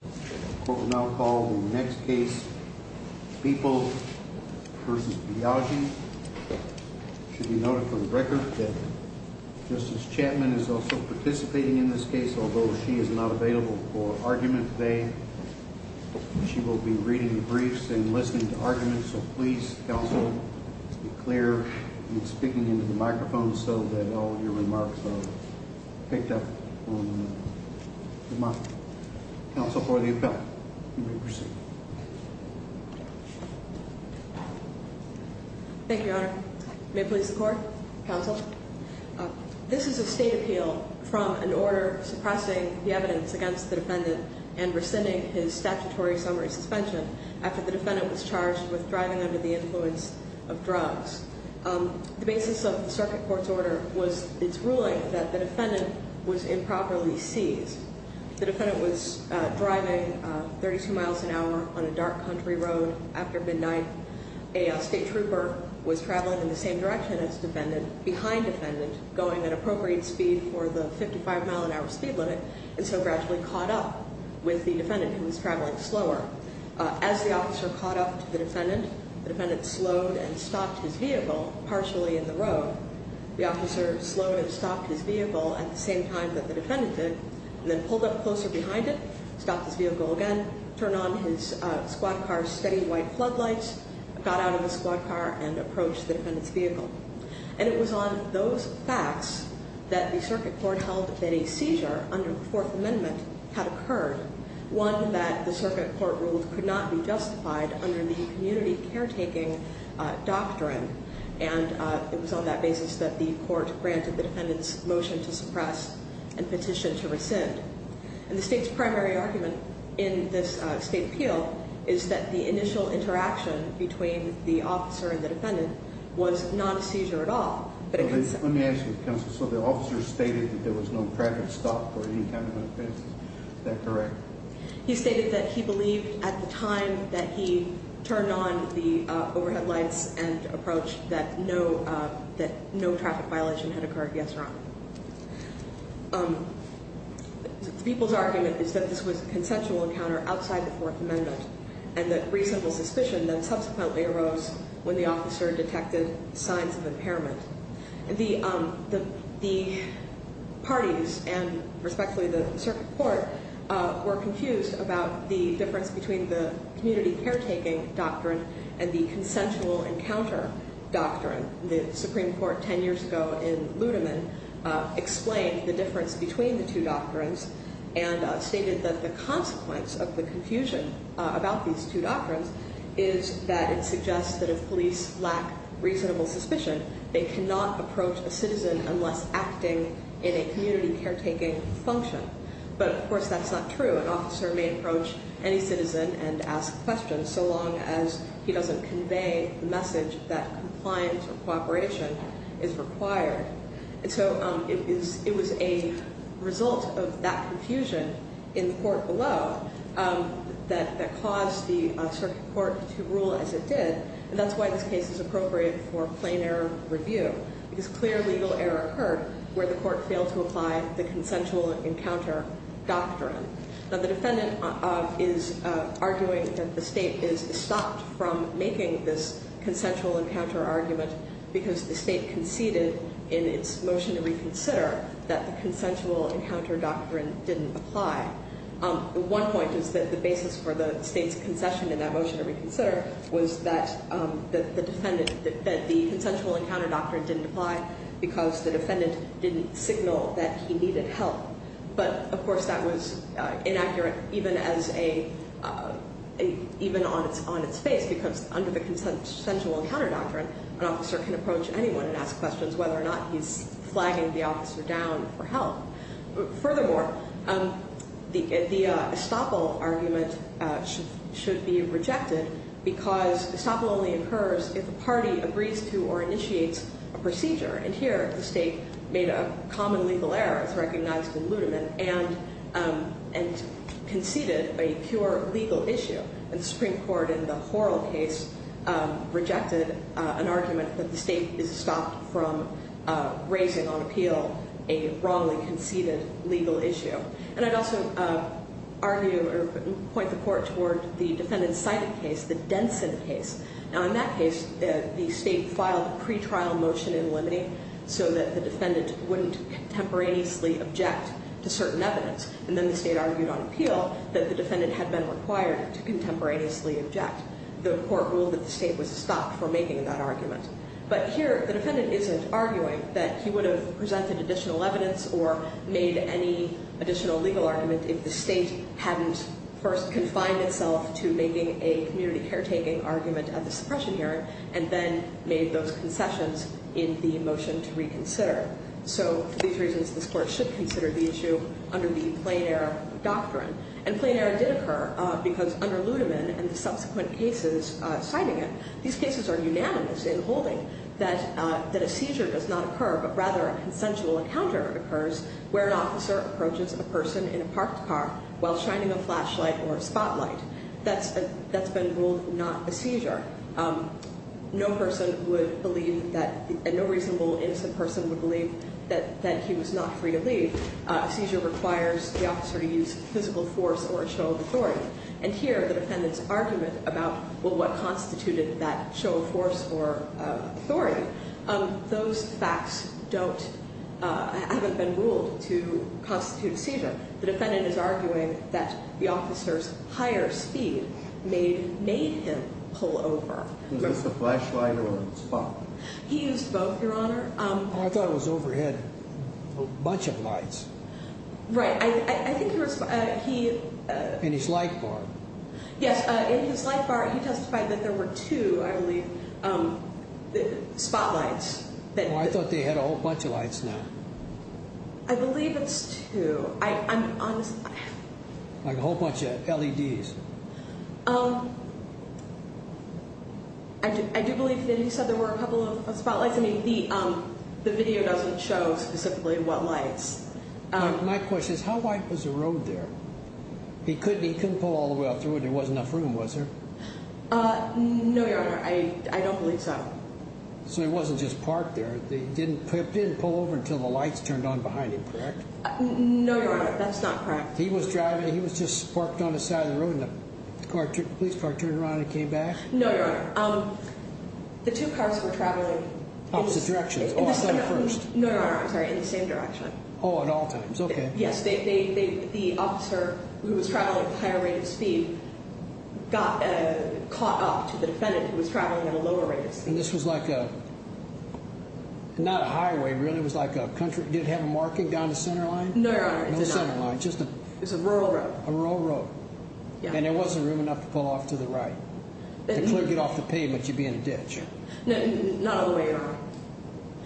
The court will now call the next case, Beeple v. Biagi. It should be noted for the record that Justice Chapman is also participating in this case, although she is not available for argument today. She will be reading the briefs and listening to arguments, so please, counsel, be clear in speaking into the microphone so that all of your remarks are picked up on the mic. Counsel, for the appeal, you may proceed. Thank you, Your Honor. May it please the Court? Counsel? This is a state appeal from an order suppressing the evidence against the defendant and rescinding his statutory summary suspension after the defendant was charged with driving under the influence of drugs. The basis of the circuit court's order was its ruling that the defendant was improperly seized. The defendant was driving 32 miles an hour on a dark country road after midnight. A state trooper was traveling in the same direction as the defendant, behind the defendant, going at appropriate speed for the 55-mile-an-hour speed limit and so gradually caught up with the defendant, who was traveling slower. As the officer caught up to the defendant, the defendant slowed and stopped his vehicle partially in the road. The officer slowed and stopped his vehicle at the same time that the defendant did and then pulled up closer behind it, stopped his vehicle again, turned on his squad car's steady white floodlights, got out of the squad car and approached the defendant's vehicle. And it was on those facts that the circuit court held that a seizure under the Fourth Amendment had occurred, one that the circuit court ruled could not be justified under the community caretaking doctrine. And it was on that basis that the court granted the defendant's motion to suppress and petition to rescind. And the state's primary argument in this state appeal is that the initial interaction between the officer and the defendant was not a seizure at all. Let me ask you, counsel, so the officer stated that there was no traffic stop for any kind of offense. Is that correct? He stated that he believed at the time that he turned on the overhead lights and approached that no traffic violation had occurred, yes or no. The people's argument is that this was a consensual encounter outside the Fourth Amendment and that reasonable suspicion then subsequently arose when the officer detected signs of impairment. The parties and respectfully the circuit court were confused about the difference between the community caretaking doctrine and the consensual encounter doctrine. The Supreme Court 10 years ago in Ludeman explained the difference between the two doctrines and stated that the consequence of the confusion about these two doctrines is that it suggests that if police lack reasonable suspicion, they cannot approach a citizen unless acting in a community caretaking function. But, of course, that's not true. An officer may approach any citizen and ask questions so long as he doesn't convey the message that compliance or cooperation is required. And so it was a result of that confusion in the court below that caused the circuit court to rule as it did, and that's why this case is appropriate for plain error review, because clear legal error occurred where the court failed to apply the consensual encounter doctrine. Now, the defendant is arguing that the state is stopped from making this consensual encounter argument because the state conceded in its motion to reconsider that the consensual encounter doctrine didn't apply. One point is that the basis for the state's concession in that motion to reconsider was that the defendant, that the consensual encounter doctrine didn't apply because the defendant didn't signal that he needed help. But, of course, that was inaccurate even on its face because under the consensual encounter doctrine, an officer can approach anyone and ask questions whether or not he's flagging the officer down for help. Furthermore, the estoppel argument should be rejected because estoppel only occurs if a party agrees to or initiates a procedure. And here the state made a common legal error, as recognized in Ludeman, and conceded a pure legal issue. And the Supreme Court in the Horrell case rejected an argument that the state is stopped from raising on appeal a wrongly conceded legal issue. And I'd also argue or point the court toward the defendant's cited case, the Denson case. Now, in that case, the state filed a pretrial motion in Lemony so that the defendant wouldn't contemporaneously object to certain evidence. And then the state argued on appeal that the defendant had been required to contemporaneously object. The court ruled that the state was stopped from making that argument. But here the defendant isn't arguing that he would have presented additional evidence or made any additional legal argument if the state hadn't first confined itself to making a community caretaking argument at the suppression hearing and then made those concessions in the motion to reconsider. So for these reasons, this court should consider the issue under the plain error doctrine. And plain error did occur because under Ludeman and the subsequent cases citing it, these cases are unanimous in holding that a seizure does not occur but rather a consensual encounter occurs where an officer approaches a person in a parked car while shining a flashlight or a spotlight. That's been ruled not a seizure. No person would believe that a no reasonable innocent person would believe that he was not free to leave. A seizure requires the officer to use physical force or a show of authority. And here the defendant's argument about, well, what constituted that show of force or authority, those facts haven't been ruled to constitute a seizure. The defendant is arguing that the officer's higher speed made him pull over. Was this a flashlight or a spotlight? He used both, Your Honor. Oh, I thought it was overhead. A bunch of lights. Right. I think he was, he... In his light bar. Yes, in his light bar he testified that there were two, I believe, spotlights. Oh, I thought they had a whole bunch of lights now. I believe it's two. Like a whole bunch of LEDs. I do believe that he said there were a couple of spotlights. I mean, the video doesn't show specifically what lights. My question is how white was the road there? He couldn't pull all the way out through it. There wasn't enough room, was there? No, Your Honor. I don't believe so. So he wasn't just parked there. He didn't pull over until the lights turned on behind him, correct? No, Your Honor. That's not correct. He was driving. He was just parked on the side of the road and the police car turned around and came back? No, Your Honor. The two cars were traveling... Opposite directions. Oh, I thought it was first. No, Your Honor. I'm sorry. In the same direction. Oh, at all times. Okay. Yes, the officer who was traveling at a higher rate of speed got caught up to the defendant who was traveling at a lower rate of speed. And this was like a... Not a highway, really. It was like a country... Did it have a marking down the center line? No, Your Honor. No center line. Just a... It was a rural road. A rural road. Yeah. And there wasn't room enough to pull off to the right. The clerk would get off the pavement. You'd be in a ditch. Not all the way, Your Honor.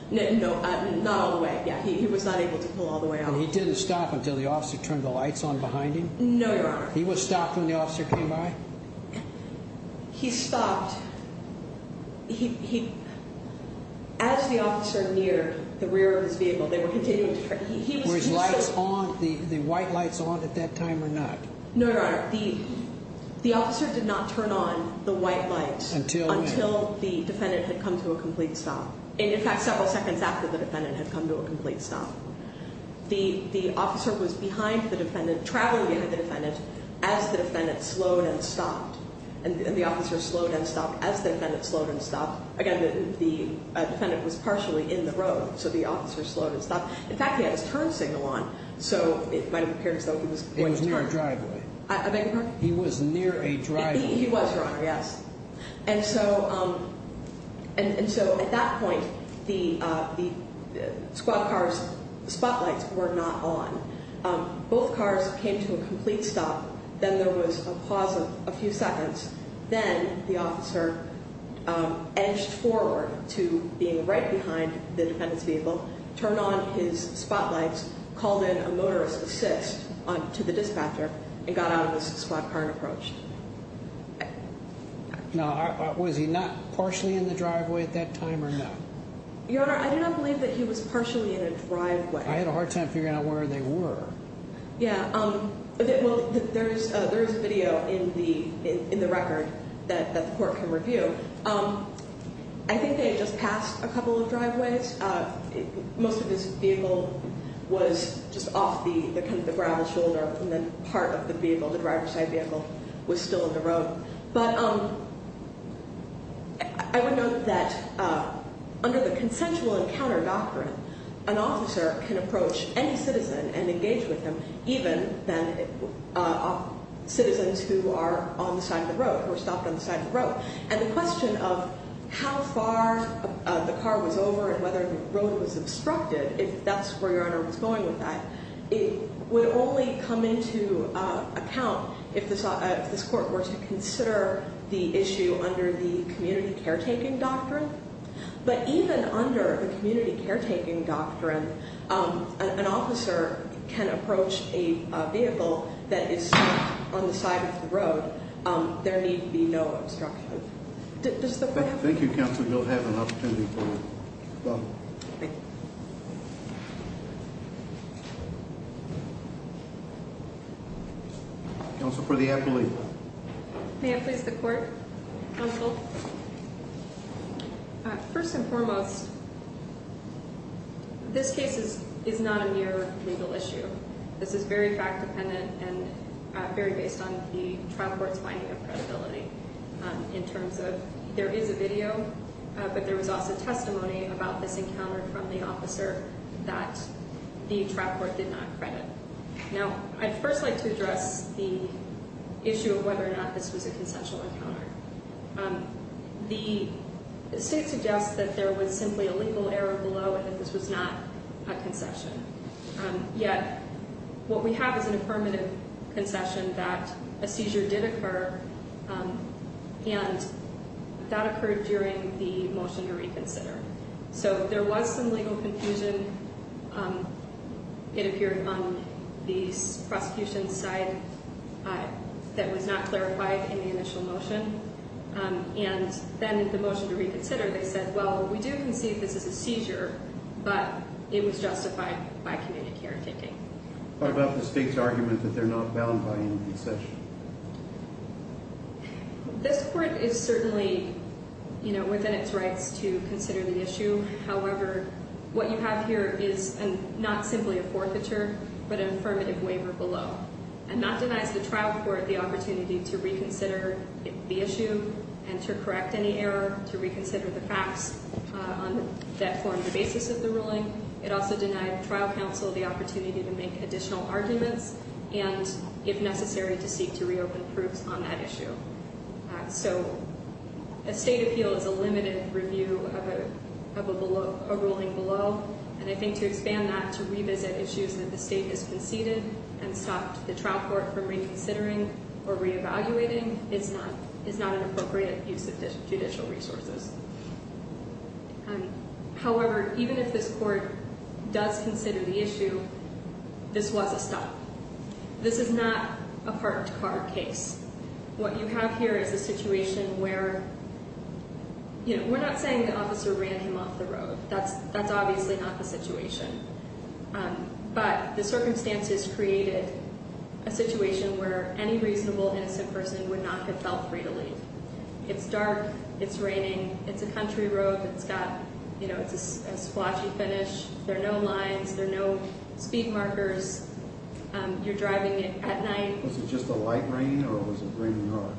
No, not all the way. Yeah, he was not able to pull all the way off. And he didn't stop until the officer turned the lights on behind him? No, Your Honor. He was stopped when the officer came by? He stopped... He... As the officer neared the rear of his vehicle, they were continuing to turn... Were his lights on, the white lights on at that time or not? No, Your Honor. The officer did not turn on the white lights... Until when? Until the defendant had come to a complete stop. In fact, several seconds after the defendant had come to a complete stop. The officer was behind the defendant, traveling behind the defendant, as the defendant slowed and stopped. And the officer slowed and stopped as the defendant slowed and stopped. Again, the defendant was partially in the road, so the officer slowed and stopped. In fact, he had his turn signal on, so it might have appeared as though he was going to turn. It was near a driveway. I beg your pardon? He was near a driveway. He was, Your Honor, yes. And so at that point, the squad car's spotlights were not on. Both cars came to a complete stop. Then there was a pause of a few seconds. Then the officer edged forward to being right behind the defendant's vehicle, turned on his spotlights, called in a motorist assist to the dispatcher, and got out of his squad car and approached. Now, was he not partially in the driveway at that time or not? Your Honor, I do not believe that he was partially in a driveway. I had a hard time figuring out where they were. Yeah. Well, there is a video in the record that the court can review. I think they had just passed a couple of driveways. Most of his vehicle was just off the kind of the gravel shoulder, and then part of the vehicle, the driver's side vehicle, was still in the road. But I would note that under the consensual encounter doctrine, an officer can approach any citizen and engage with them, even citizens who are on the side of the road, who are stopped on the side of the road. And the question of how far the car was over and whether the road was obstructed, if that's where Your Honor was going with that, it would only come into account if this court were to consider the issue under the community caretaking doctrine. But even under the community caretaking doctrine, an officer can approach a vehicle that is stopped on the side of the road. There need be no obstruction. Thank you, counsel. You'll have an opportunity for that. Thank you. Counsel, for the appellee. May I please the court? Counsel. First and foremost, this case is not a mere legal issue. This is very fact dependent and very based on the trial court's finding of credibility in terms of there is a video, but there was also testimony about this encounter from the officer that the trial court did not credit. Now, I'd first like to address the issue of whether or not this was a consensual encounter. The state suggests that there was simply a legal error below and that this was not a concession. Yet, what we have is an affirmative concession that a seizure did occur, and that occurred during the motion to reconsider. So there was some legal confusion. It appeared on the prosecution's side that was not clarified in the initial motion, and then in the motion to reconsider, they said, well, we do concede this is a seizure, but it was justified by community caretaking. What about the state's argument that they're not bound by any concession? This court is certainly, you know, within its rights to consider the issue. However, what you have here is not simply a forfeiture, but an affirmative waiver below, and that denies the trial court the opportunity to reconsider the issue and to correct any error, to reconsider the facts that form the basis of the ruling. It also denied trial counsel the opportunity to make additional arguments and, if necessary, to seek to reopen proofs on that issue. So a state appeal is a limited review of a ruling below, and I think to expand that to revisit issues that the state has conceded and stop the trial court from reconsidering or reevaluating is not an appropriate use of judicial resources. However, even if this court does consider the issue, this was a stop. This is not a parked car case. What you have here is a situation where, you know, we're not saying the officer ran him off the road. That's obviously not the situation. But the circumstances created a situation where any reasonable, innocent person would not have felt free to leave. It's dark. It's raining. It's a country road. It's got, you know, it's a splotchy finish. There are no lines. There are no speed markers. You're driving at night. Was it just a light rain or was it raining hard?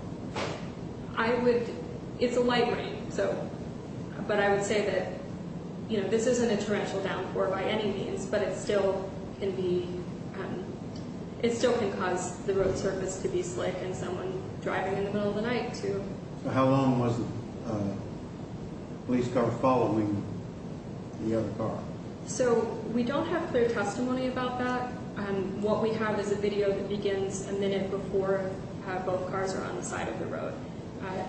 I would—it's a light rain, so—but I would say that, you know, this isn't a torrential downpour by any means, but it still can be—it still can cause the road surface to be slick and someone driving in the middle of the night to— So how long was the police car following the other car? So we don't have clear testimony about that. What we have is a video that begins a minute before both cars are on the side of the road.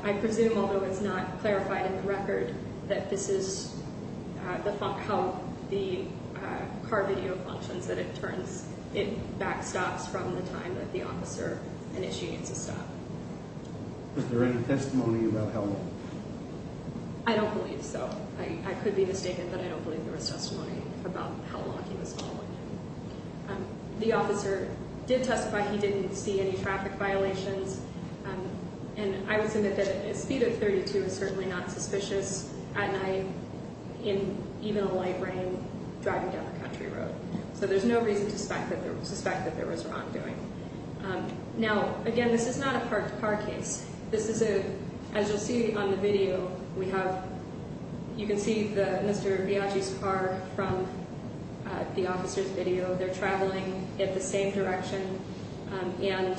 I presume, although it's not clarified in the record, that this is how the car video functions, that it turns—it backstops from the time that the officer initiates a stop. Was there any testimony about how long? I don't believe so. I could be mistaken, but I don't believe there was testimony about how long he was following him. The officer did testify he didn't see any traffic violations, and I would submit that a speed of 32 is certainly not suspicious at night in even a light rain driving down a country road. So there's no reason to suspect that there was wrongdoing. Now, again, this is not a parked car case. This is a—as you'll see on the video, we have—you can see Mr. Biagi's car from the officer's video. They're traveling in the same direction, and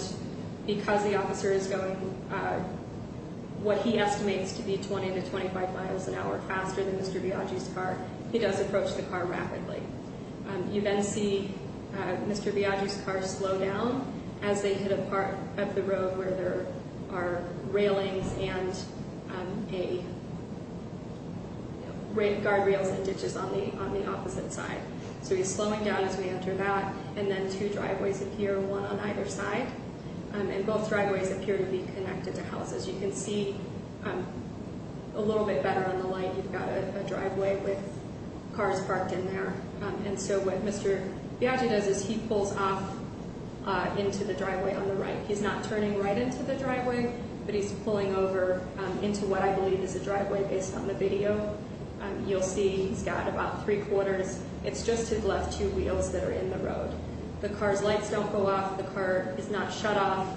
because the officer is going what he estimates to be 20 to 25 miles an hour faster than Mr. Biagi's car, he does approach the car rapidly. You then see Mr. Biagi's car slow down as they hit a part of the road where there are railings and guardrails and ditches on the opposite side. So he's slowing down as we enter that, and then two driveways appear, one on either side, and both driveways appear to be connected to houses. As you can see a little bit better on the light, you've got a driveway with cars parked in there. And so what Mr. Biagi does is he pulls off into the driveway on the right. He's not turning right into the driveway, but he's pulling over into what I believe is a driveway based on the video. You'll see he's got about three-quarters. It's just his left two wheels that are in the road. The car's lights don't go off. The car is not shut off.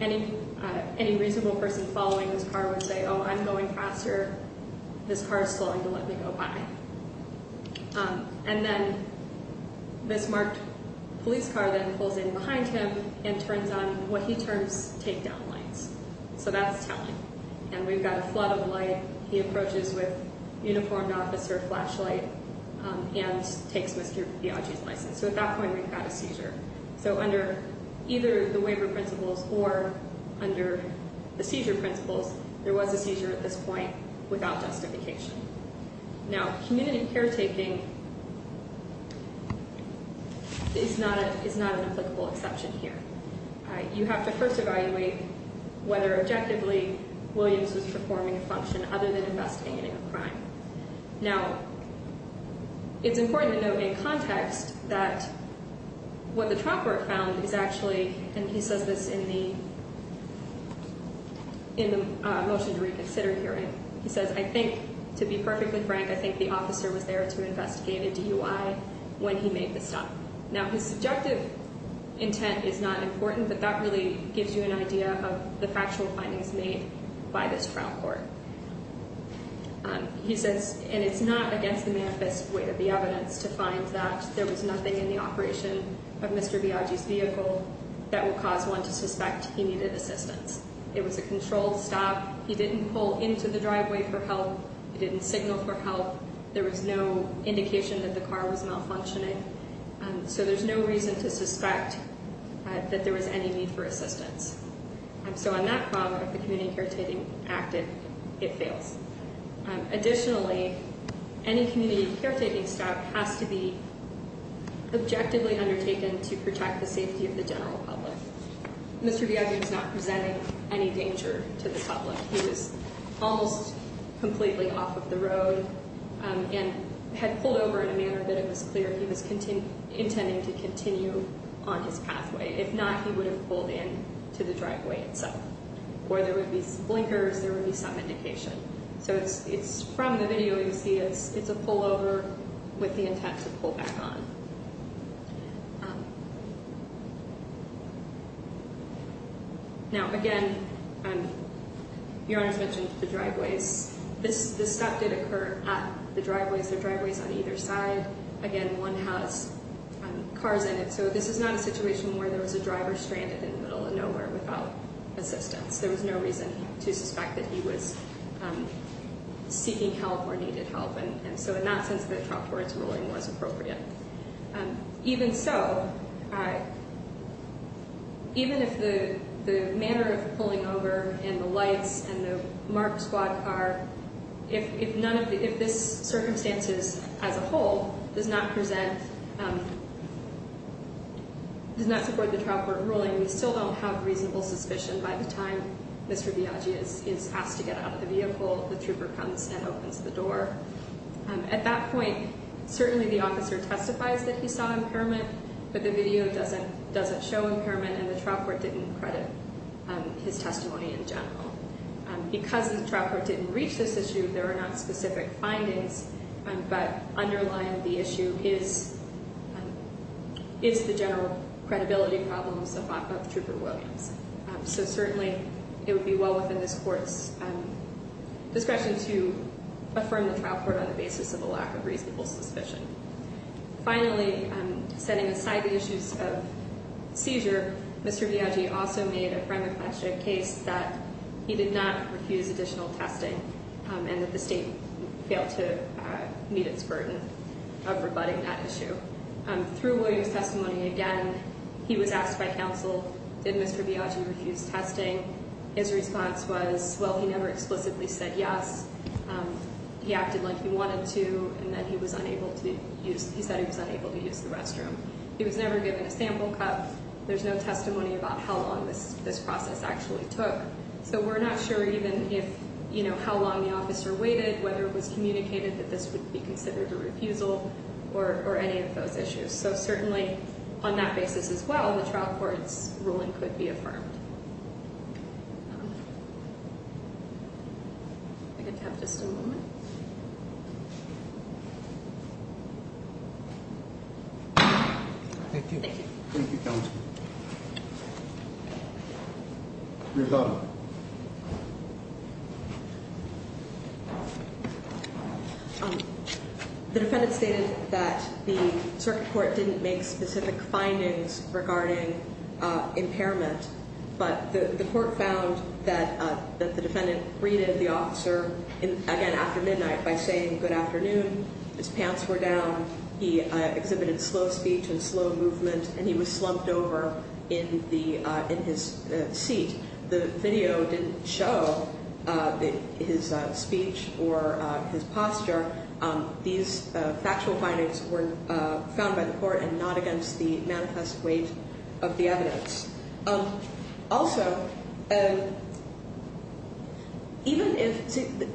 Any reasonable person following this car would say, oh, I'm going faster. This car is slowing to let me go by. And then this marked police car then pulls in behind him and turns on what he terms takedown lights. So that's telling. And we've got a flood of light. He approaches with uniformed officer flashlight and takes Mr. Biagi's license. So at that point we've got a seizure. So under either the waiver principles or under the seizure principles, there was a seizure at this point without justification. Now, community caretaking is not an applicable exception here. You have to first evaluate whether objectively Williams was performing a function other than investigating a crime. Now, it's important to note in context that what the trial court found is actually, and he says this in the motion to reconsider hearing. He says, I think, to be perfectly frank, I think the officer was there to investigate a DUI when he made the stop. Now, his subjective intent is not important, but that really gives you an idea of the factual findings made by this trial court. He says, and it's not against the manifest weight of the evidence to find that there was nothing in the operation of Mr. Biagi's vehicle that would cause one to suspect he needed assistance. It was a controlled stop. He didn't pull into the driveway for help. He didn't signal for help. There was no indication that the car was malfunctioning. So there's no reason to suspect that there was any need for assistance. So on that part of the community caretaking act, it fails. Additionally, any community caretaking stop has to be objectively undertaken to protect the safety of the general public. Mr. Biagi was not presenting any danger to the public. He was almost completely off of the road and had pulled over in a manner that it was clear he was intending to continue on his pathway. If not, he would have pulled into the driveway itself. Or there would be some blinkers, there would be some indication. So it's from the video you see it's a pullover with the intent to pull back on. Now, again, Your Honor's mentioned the driveways. This stop did occur at the driveways. There are driveways on either side. Again, one has cars in it. So this is not a situation where there was a driver stranded in the middle of nowhere without assistance. There was no reason to suspect that he was seeking help or needed help. And so in that sense, the top court's ruling was appropriate. Even so, even if the manner of pulling over and the lights and the marked squad car, if this circumstances as a whole does not present, does not support the top court ruling, we still don't have reasonable suspicion by the time Mr. Biagi is asked to get out of the vehicle, the trooper comes and opens the door. At that point, certainly the officer testifies that he saw impairment, but the video doesn't show impairment and the trial court didn't credit his testimony in general. Because the trial court didn't reach this issue, there are not specific findings, but underlying the issue is the general credibility problems of Trooper Williams. So certainly it would be well within this court's discretion to affirm the trial court on the basis of a lack of reasonable suspicion. Finally, setting aside the issues of seizure, Mr. Biagi also made a prima facie case that he did not refuse additional testing and that the state failed to meet its burden of rebutting that issue. Through Williams' testimony, again, he was asked by counsel, did Mr. Biagi refuse testing? His response was, well, he never explicitly said yes. He acted like he wanted to and that he was unable to use, he said he was unable to use the restroom. He was never given a sample cup. There's no testimony about how long this process actually took. So we're not sure even if, you know, how long the officer waited, whether it was communicated that this would be considered a refusal or any of those issues. So certainly on that basis as well, the trial court's ruling could be affirmed. I'm going to have just a moment. Thank you, counsel. Your thought? The defendant stated that the circuit court didn't make specific findings regarding impairment, but the court found that the defendant greeted the officer again after midnight by saying good afternoon. His pants were down. He exhibited slow speech and slow movement, and he was slumped over in his seat. The video didn't show his speech or his posture. These factual findings were found by the court and not against the manifest weight of the evidence. Also, even if the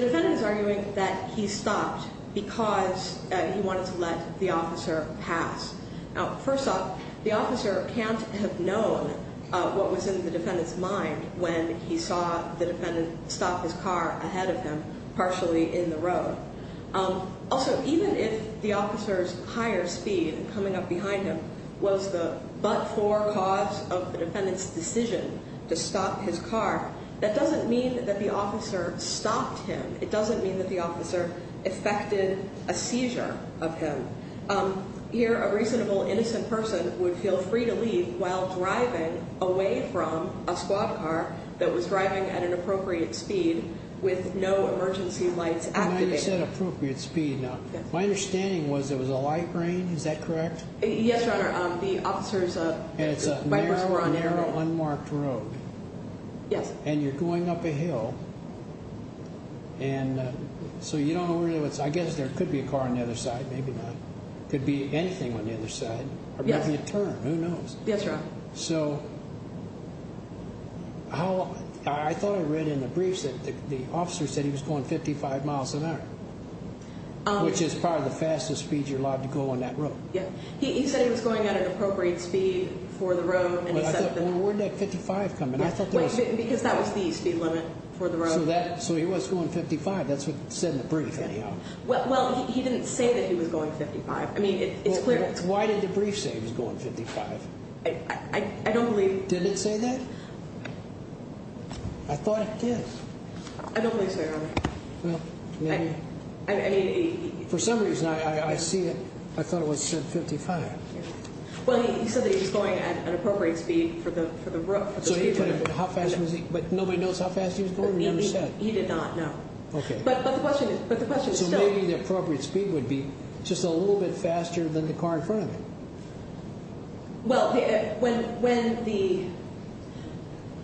defendant is arguing that he stopped because he wanted to let the officer pass. Now, first off, the officer can't have known what was in the defendant's mind when he saw the defendant stop his car ahead of him partially in the road. Also, even if the officer's higher speed coming up behind him was the but-for cause of the defendant's decision to stop his car, that doesn't mean that the officer stopped him. It doesn't mean that the officer effected a seizure of him. Here, a reasonable innocent person would feel free to leave while driving away from a squad car that was driving at an appropriate speed with no emergency lights activated. My understanding was it was a light rain, is that correct? Yes, Your Honor. The officer's bike bar were on air. And it's a narrow, unmarked road. Yes. And you're going up a hill, and so you don't know where it was. I guess there could be a car on the other side, maybe not. Could be anything on the other side. Or maybe a turn, who knows? Yes, Your Honor. So, I thought I read in the briefs that the officer said he was going 55 miles an hour, which is probably the fastest speed you're allowed to go on that road. He said he was going at an appropriate speed for the road. Well, where did that 55 come in? Because that was the speed limit for the road. So he was going 55, that's what it said in the brief anyhow. Well, he didn't say that he was going 55. Why did the brief say he was going 55? I don't believe. Did it say that? I thought it did. I don't believe so, Your Honor. Well, maybe. I mean. For some reason, I see it. I thought it said 55. Well, he said that he was going at an appropriate speed for the road. So he put it at how fast was he? But nobody knows how fast he was going? He did not, no. Okay. But the question is still. So maybe the appropriate speed would be just a little bit faster than the car in front of him. Well, when the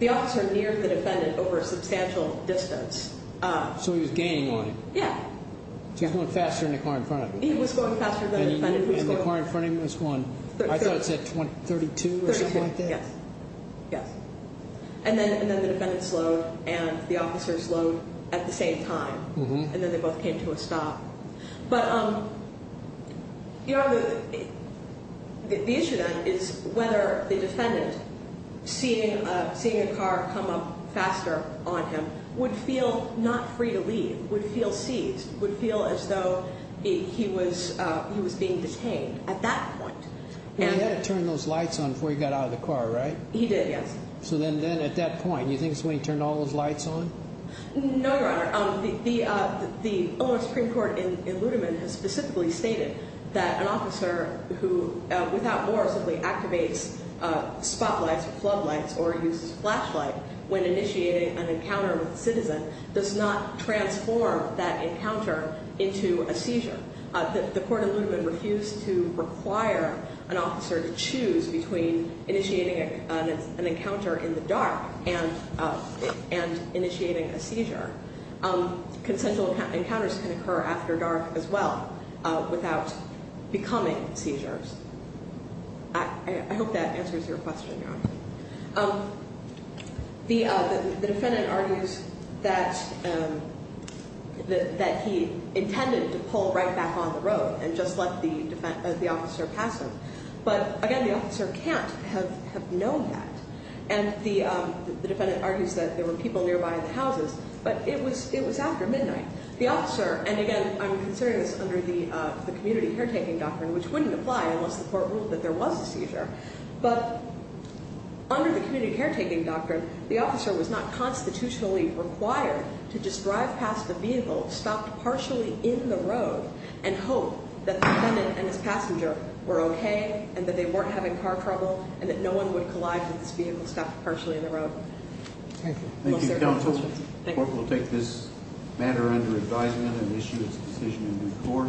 officer neared the defendant over a substantial distance. So he was gaining on him. Yeah. So he was going faster than the car in front of him. He was going faster than the defendant was going. And the car in front of him was going. I thought it said 32 or something like that. 32, yes. Yes. And then the defendant slowed and the officer slowed at the same time. And then they both came to a stop. But, you know, the issue then is whether the defendant, seeing a car come up faster on him, would feel not free to leave. Would feel seized. Would feel as though he was being detained at that point. He had to turn those lights on before he got out of the car, right? He did, yes. So then at that point, you think he's going to turn all those lights on? No, Your Honor. The Ohio Supreme Court in Ludeman has specifically stated that an officer who, without more, simply activates spotlights or floodlights or uses a flashlight when initiating an encounter with a citizen does not transform that encounter into a seizure. The court in Ludeman refused to require an officer to choose between initiating an encounter in the dark and initiating a seizure. Consensual encounters can occur after dark as well without becoming seizures. I hope that answers your question, Your Honor. The defendant argues that he intended to pull right back on the road and just let the officer pass him. But, again, the officer can't have known that. And the defendant argues that there were people nearby the houses, but it was after midnight. The officer, and again, I'm considering this under the community caretaking doctrine, which wouldn't apply unless the court ruled that there was a seizure. But under the community caretaking doctrine, the officer was not constitutionally required to just drive past a vehicle stopped partially in the road and hope that the defendant and his passenger were okay and that they weren't having car trouble and that no one would collide with this vehicle stopped partially in the road. Thank you. Thank you, counsel. The court will take this matter under advisement and issue its decision in due course.